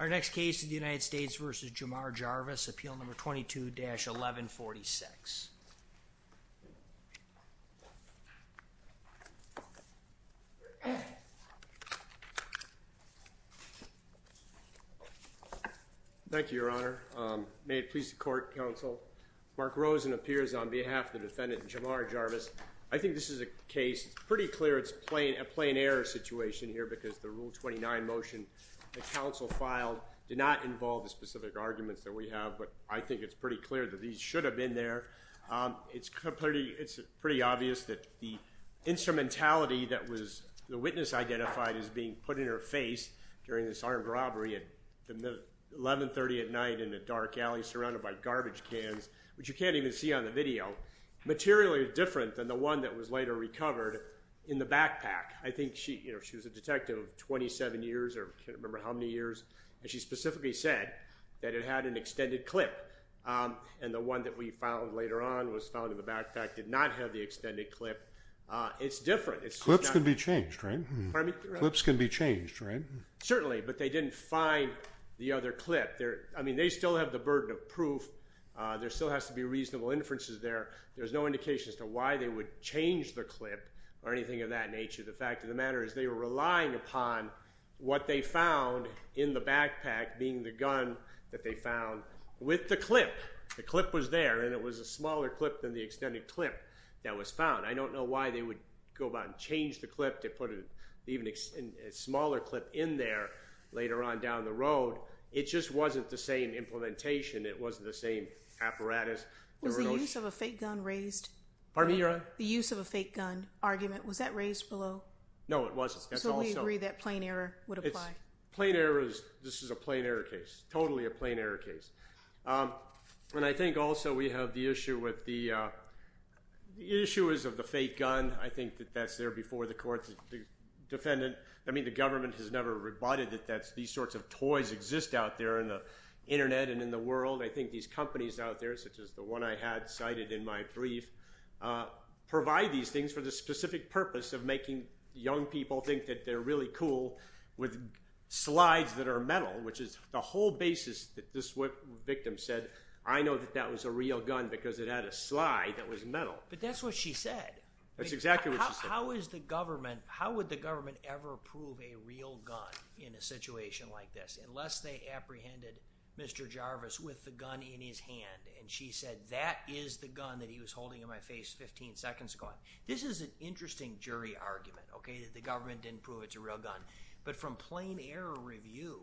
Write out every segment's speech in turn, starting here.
Our next case is the United States v. Jamar Jarvis, appeal number 22-1146. Thank you, your honor. May it please the court, counsel. Mark Rosen appears on behalf of the defendant, Jamar Jarvis. I think this is a case, it's pretty clear it's a plain error situation here because the rule 29 motion that counsel filed did not involve the specific arguments that we have, but I think it's pretty clear that these should have been there. It's pretty obvious that the instrumentality that was the witness identified as being put in her face during this armed robbery at 1130 at night in a dark alley surrounded by garbage cans, which you can't even see on the video, materially different than the one that was later recovered in the backpack. I think she was a detective of 27 years, I can't remember how many years, and she specifically said that it had an extended clip, and the one that we found later on was found in the backpack did not have the extended clip. It's different. Clips can be changed, right? Certainly, but they didn't find the other clip. I mean, they still have the burden of proof. There still has to be reasonable inferences there. There's no indication as to why they would change the clip or anything of that nature. The fact of the matter is they were relying upon what they found in the backpack, being the gun that they found with the clip. The clip was there, and it was a smaller clip than the extended clip that was found. I don't know why they would go about and change the clip to put an smaller clip in there later on down the road. It just wasn't the same implementation. It wasn't the same apparatus. Was the use of a fake gun raised? Pardon me, Your Honor? The use of a fake gun argument, was that raised below? No, it wasn't. So we agree that plain error would apply. Plain error, this is a plain error case, totally a plain error case, and I think also we have the issue with the issuers of the fake gun. I think that that's there before the court, the defendant. I mean, the government has never rebutted that these sorts of toys exist out there in the internet and in the world. I think these companies out there, such as the one I had cited in my brief, provide these things for the specific purpose of making young people think that they're really cool with slides that are metal, which is the whole basis that this victim said, I know that that was a real gun because it had a slide that was metal. But that's what she said. That's exactly what she said. How is the government, how would the government ever approve a real gun in a situation like this, unless they apprehended Mr. Jarvis with the gun in his hand, and she said, that is the gun that he was holding in my face 15 seconds ago. This is an interesting jury argument, okay, that the government didn't prove it's a real gun. But from plain error review,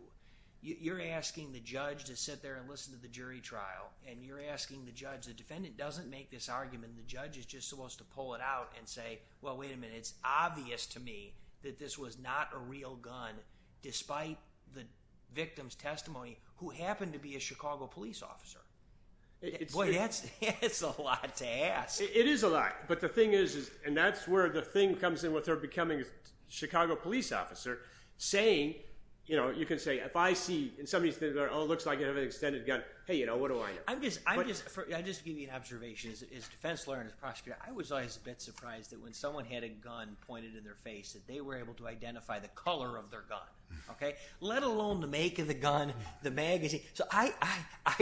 you're asking the judge to sit there and listen to the jury trial, and you're asking the judge, the defendant doesn't make this argument, the judge is just supposed to pull it out and say, well, wait a minute, it's obvious to me that this was not a real gun, despite the victim's testimony, who happened to be a Chicago police officer. Boy, that's a lot to ask. It is a lot, but the thing is, and that's where the thing comes in with her becoming a Chicago police officer, saying, you know, you can say, if I see, and somebody says, oh, it looks like you have an extended gun, hey, you know, what do I do? I'm just, I'm just, I just give you an observation, as defense lawyer and as prosecutor, I was always a bit surprised that when someone had a gun pointed in their face, that they were able to identify the color of their gun, okay? Let alone the make of the gun, the magazine. So I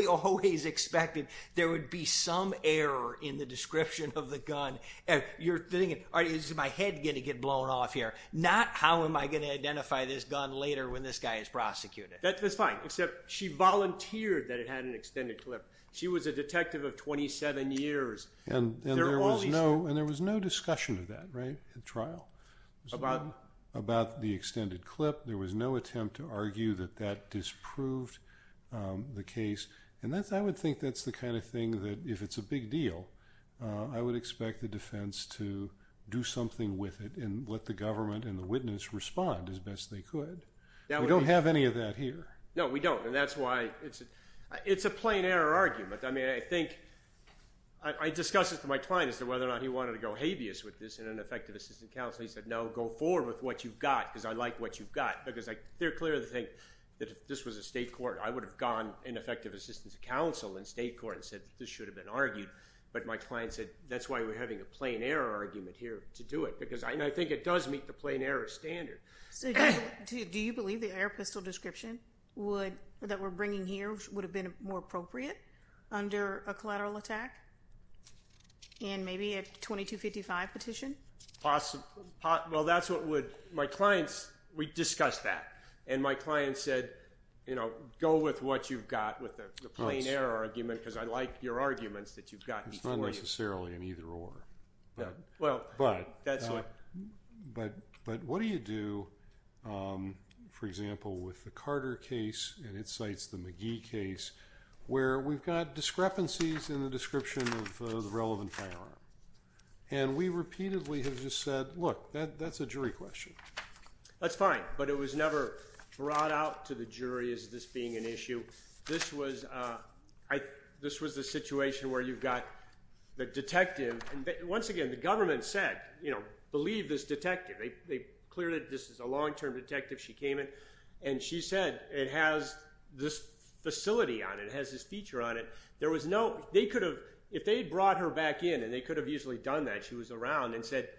always expected there would be some error in the description of the gun. You're thinking, all right, is my head going to get blown off here? Not how am I going to identify this gun later when this guy is prosecuted. That's fine, except she volunteered that it had an extended clip. She was a detective of 27 years. And there was no discussion of that, right, at trial? About the extended clip. There was no attempt to argue that that disproved the case. And that's, I would think that's the kind of thing that, if it's a big deal, I would expect the defense to do something with it, and let the government and the witness respond as best they could. We don't have any of that here. No, we don't. And that's why, it's a, it's a plain error argument. I mean, I think, I discussed this with my client as to whether or not he wanted to go forward with what you've got, because I like what you've got. Because I, they're clear of the thing, that if this was a state court, I would have gone in effective assistance of counsel in state court and said, this should have been argued. But my client said, that's why we're having a plain error argument here to do it. Because I think it does meet the plain error standard. So do you believe the air pistol description would, that we're bringing here, would have been more appropriate under a collateral attack? And maybe a 2255 petition? Possible, well, that's what would, my clients, we discussed that. And my client said, you know, go with what you've got with the plain error argument, because I like your arguments that you've got these things. It's not necessarily in either order. Well, that's what. But, but what do you do, for example, with the Carter case, and it cites the McGee case, where we've got discrepancies in the description of the relevant firearm. And we repeatedly have just said, look, that's a jury question. That's fine. But it was never brought out to the jury as this being an issue. This was, this was the situation where you've got the detective. And once again, the government said, you know, believe this detective. They cleared it. This is a long-term detective. She came in, and she said, it has this facility on it. It has this feature on it. There was no, they could have, if they had brought her back in, they could have easily done that. She was around and said,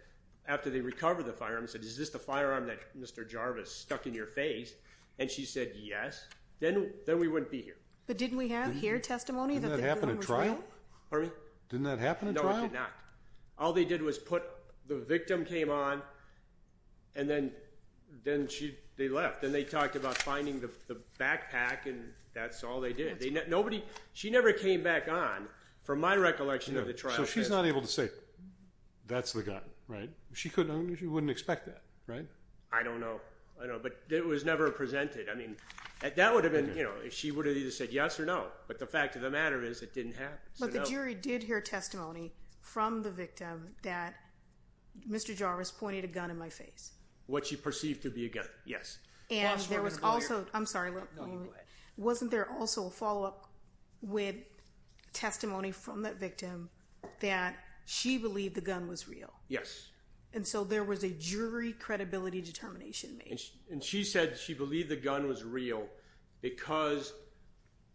after they recovered the firearm, said, is this the firearm that Mr. Jarvis stuck in your face? And she said, yes. Then, then we wouldn't be here. But didn't we have here testimony? Didn't that happen at trial? Pardon me? Didn't that happen at trial? No, it did not. All they did was put, the victim came on, and then, then she, they left. Then they talked about finding the backpack, and that's all they did. They, nobody, she never came back on, from my recollection of the trial. She's not able to say, that's the gun, right? She couldn't, she wouldn't expect that, right? I don't know. I know, but it was never presented. I mean, that would have been, you know, if she would have either said yes or no. But the fact of the matter is, it didn't happen. But the jury did hear testimony from the victim that Mr. Jarvis pointed a gun in my face. What she perceived to be a gun, yes. And there was also, I'm sorry, let me, wasn't there also a follow-up with testimony from that victim that she believed the gun was real? Yes. And so, there was a jury credibility determination made. And she said she believed the gun was real because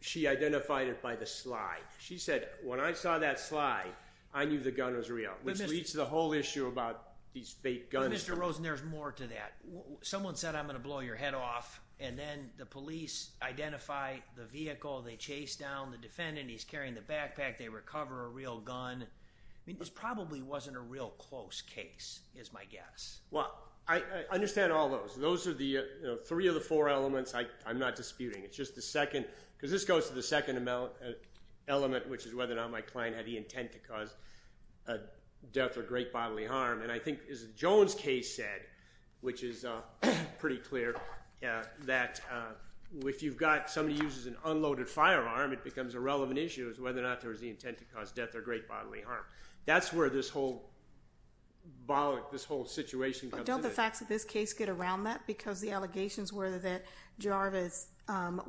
she identified it by the slide. She said, when I saw that slide, I knew the gun was real. Which leads to the whole issue about these fake guns. Mr. Rosen, there's more to that. Someone said, I'm going to blow your head off. And then the police identify the vehicle. They chase down the defendant. He's carrying the backpack. They recover a real gun. I mean, this probably wasn't a real close case, is my guess. Well, I understand all those. Those are the three of the four elements I'm not disputing. It's just the second, because this goes to the second element, which is whether or not my client had the intent to cause a death or great bodily harm. And I think, as Joan's case said, which is pretty clear, that if you've got somebody who uses an unloaded firearm, it becomes a relevant issue, is whether or not there was the intent to cause death or great bodily harm. That's where this whole situation comes in. But don't the facts of this case get around that? Because the allegations were that Jarvis,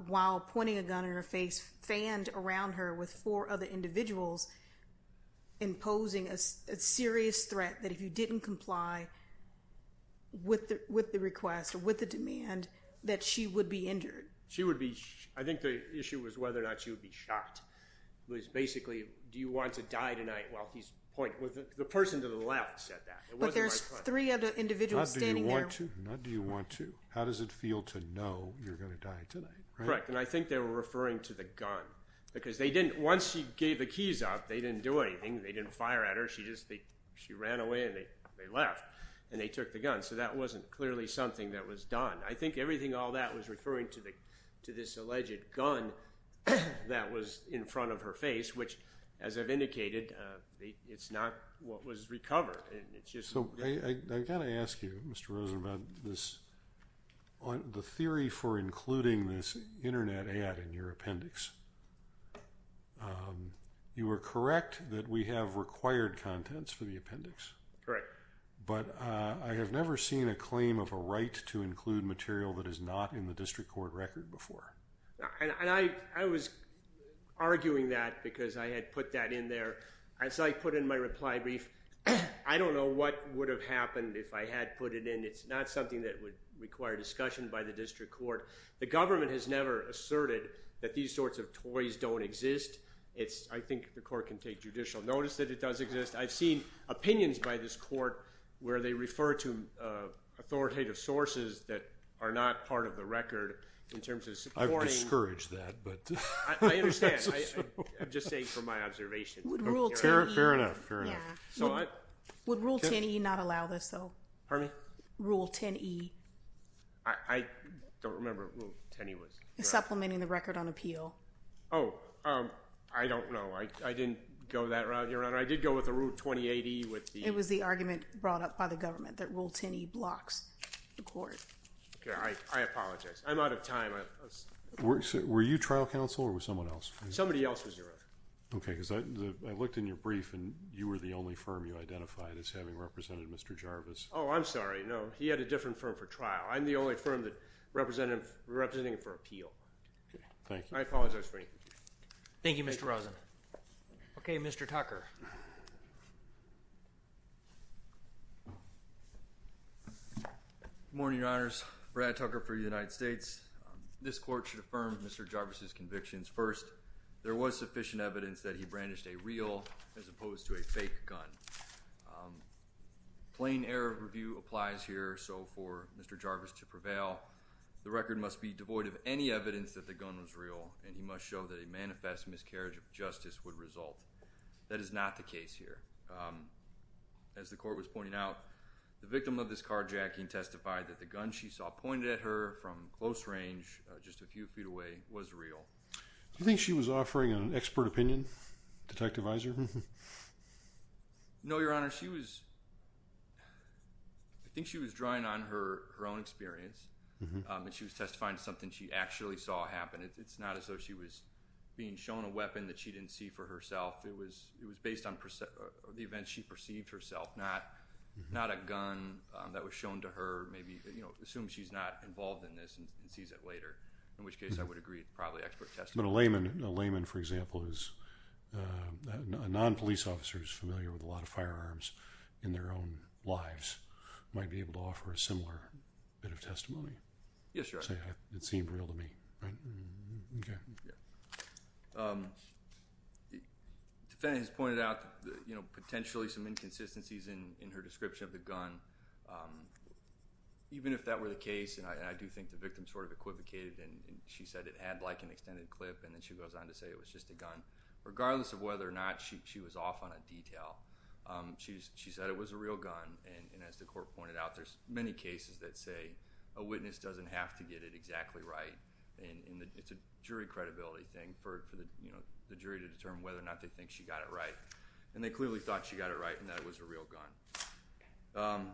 while pointing a gun in her face, fanned around her with four other individuals, imposing a serious threat that if you didn't comply with the request or with the demand, that she would be injured. She would be. I think the issue was whether or not she would be shot. It was basically, do you want to die tonight while he's pointing? The person to the left said that. But there's three other individuals standing there. Not do you want to. How does it feel to know you're going to die tonight? Correct. And I think they were referring to the gun. Because once she gave the keys up, they didn't do anything. They didn't fire at her. She ran away and they left. And they took the gun. So that wasn't clearly something that was done. I think everything all that was referring to this alleged gun that was in front of her face, which, as I've indicated, it's not what was recovered. And it's just- So I've got to ask you, Mr. Rosen, about the theory for including this internet ad in your appendix. Um, you were correct that we have required contents for the appendix. Correct. But I have never seen a claim of a right to include material that is not in the district court record before. And I was arguing that because I had put that in there. As I put in my reply brief, I don't know what would have happened if I had put it in. It's not something that would require discussion by the district court. The government has never asserted that these sorts of toys don't exist. It's- I think the court can take judicial notice that it does exist. I've seen opinions by this court where they refer to authoritative sources that are not part of the record in terms of supporting- I would discourage that, but- I understand. I'm just saying from my observation. Fair enough, fair enough. Would Rule 10e not allow this, though? Pardon me? Rule 10e. I don't remember what Rule 10e was. Supplementing the record on appeal. Oh, um, I don't know. I didn't go that route, Your Honor. I did go with the Rule 208e with the- It was the argument brought up by the government that Rule 10e blocks the court. Okay, I apologize. I'm out of time. Were you trial counsel or was someone else? Somebody else was your record. Okay, because I looked in your brief and you were the only firm you identified as having represented Mr. Jarvis. Oh, I'm sorry. No. He had a different firm for trial. I'm the only firm that represented him for appeal. Okay, thank you. I apologize for anything. Thank you, Mr. Rosen. Okay, Mr. Tucker. Good morning, Your Honors. Brad Tucker for the United States. This court should affirm Mr. Jarvis's convictions. First, there was sufficient evidence that he brandished a real as opposed to a fake gun. A plain error of review applies here, so for Mr. Jarvis to prevail, the record must be devoid of any evidence that the gun was real and he must show that a manifest miscarriage of justice would result. That is not the case here. As the court was pointing out, the victim of this carjacking testified that the gun she saw pointed at her from close range, just a few feet away, was real. Do you think she was offering an expert opinion, Detective Iser? No, Your Honor. I think she was drawing on her own experience and she was testifying to something she actually saw happen. It's not as though she was being shown a weapon that she didn't see for herself. It was based on the events she perceived herself, not a gun that was shown to her, maybe, you know, assume she's not involved in this and sees it later, in which case I would agree it's probably expert testimony. But a layman, for example, who's a non-police officer who's familiar with a lot of firearms in their own lives might be able to offer a similar bit of testimony. Yes, Your Honor. It seemed real to me, right? Okay. Defendant has pointed out, you know, potentially some inconsistencies in her description of the gun. Even if that were the case, and I do think the victim sort of equivocated and she said it had like an extended clip and then she goes on to say it was just a gun. Regardless of whether or not she was off on a detail, she said it was a real gun. And as the court pointed out, there's many cases that say a witness doesn't have to get it exactly right. And it's a jury credibility thing for the jury to determine whether or not they think she got it right. And they clearly thought she got it right and that it was a real gun.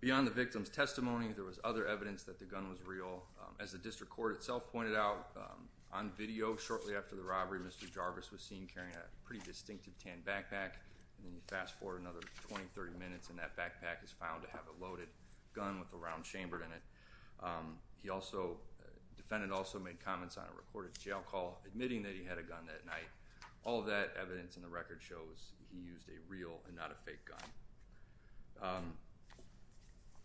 Beyond the victim's testimony, there was other evidence that the gun was real. As the district court itself pointed out on video shortly after the robbery, Mr. Jarvis was seen carrying a pretty distinctive tan backpack. And then you fast forward another 20, 30 minutes and that backpack is found to have a loaded gun with a round chambered in it. He also, defendant also made comments on a recorded jail call, admitting that he had a gun that night. All of that evidence in the record shows he used a real and not a fake gun.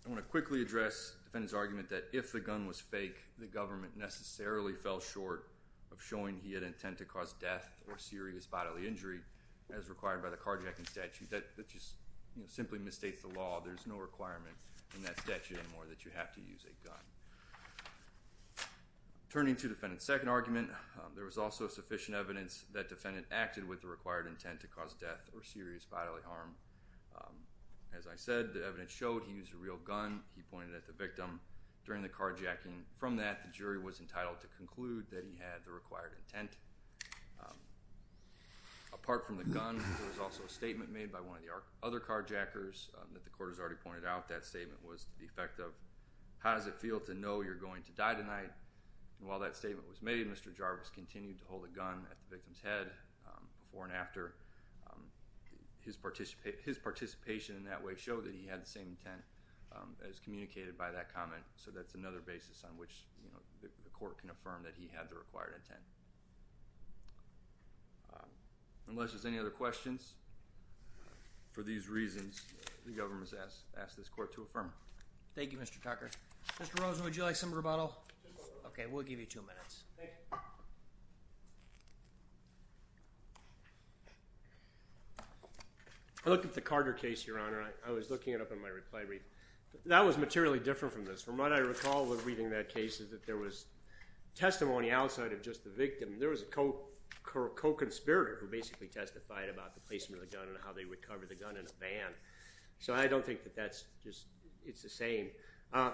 I want to quickly address defendant's argument that if the gun was fake, the government necessarily fell short of showing he had intent to cause death or serious bodily injury, as required by the carjacking statute. That just simply misstates the law. There's no requirement in that statute anymore that you have to use a gun. Turning to defendant's second argument, there was also sufficient evidence that defendant acted with the required intent to cause death or serious bodily harm. As I said, the evidence showed he used a real gun. He pointed at the victim during the carjacking. From that, the jury was entitled to conclude that he had the required intent. Apart from the gun, there was also a statement made by one of the other carjackers that the court has already pointed out. That statement was to the effect of, how does it feel to know you're going to die tonight? While that statement was made, Mr. Jarvis continued to hold a gun at the victim's head. Before and after, his participation in that way showed that he had the same intent as communicated by that comment. So that's another basis on which the court can affirm that he had the required intent. Unless there's any other questions, for these reasons, the government has asked this court to affirm. Thank you, Mr. Tucker. Mr. Rosen, would you like some rebuttal? Okay, we'll give you two minutes. I looked at the Carter case, Your Honor. I was looking it up in my reply read. That was materially different from this. From what I recall with reading that case is that there was testimony outside of just the victim. There was a co-conspirator who basically testified about the placement of the gun and how they recovered the gun in a van. So I don't think that that's just, it's the same.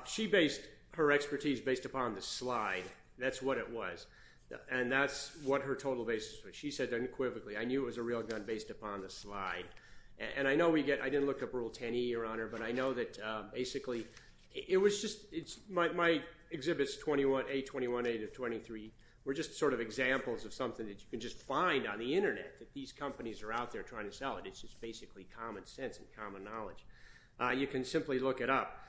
She based her expertise based upon the slide. That's what it was. And that's what her total basis was. She said unequivocally, I knew it was a real gun based upon the slide. And I know we get, I didn't look up Rule 10e, Your Honor, but I know that basically it was just, it's, my exhibit's 21, A21A to 23, were just sort of examples of something that you can just find on the internet that these companies are out there trying to sell it. It's just basically common sense and common knowledge. You can simply look it up.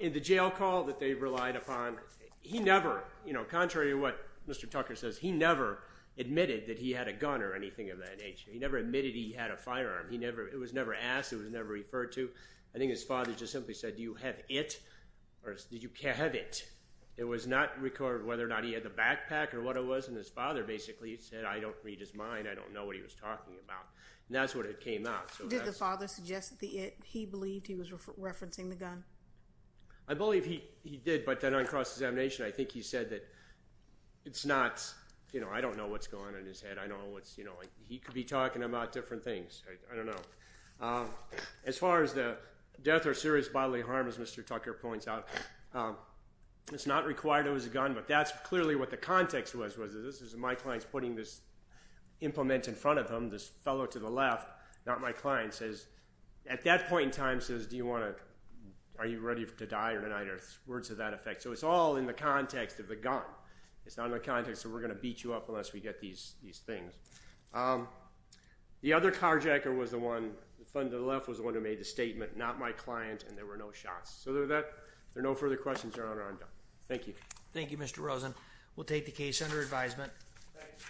In the jail call that they relied upon, he never, you know, contrary to what Mr. Tucker says, he never admitted that he had a gun or anything of that nature. He never admitted he had a firearm. He never, it was never asked. It was never referred to. I think his father just simply said, do you have it? Or did you have it? It was not recorded whether or not he had the backpack or what it was. And his father basically said, I don't read his mind. I don't know what he was talking about. And that's what it came out. Did the father suggest the it? He believed he was referencing the gun? I believe he did. But then on cross-examination, I think he said that it's not, you know, I don't know what's going on in his head. I know what's, you know, he could be talking about different things. I don't know. As far as the death or serious bodily harm, as Mr. Tucker points out, it's not required it was a gun. But that's clearly what the context was, was this is my client's putting this implement in front of him, this fellow to the left, not my client, says, at that point in time, says, do you want to, are you ready to die or not? Words of that effect. So it's all in the context of the gun. It's not in the context that we're going to beat you up unless we get these things. The other carjacker was the one, the one to the left was the one who made the statement, not my client. And there were no shots. So there are no further questions, Your Honor. I'm done. Thank you. Thank you, Mr. Rosen. We'll take the case under advisement.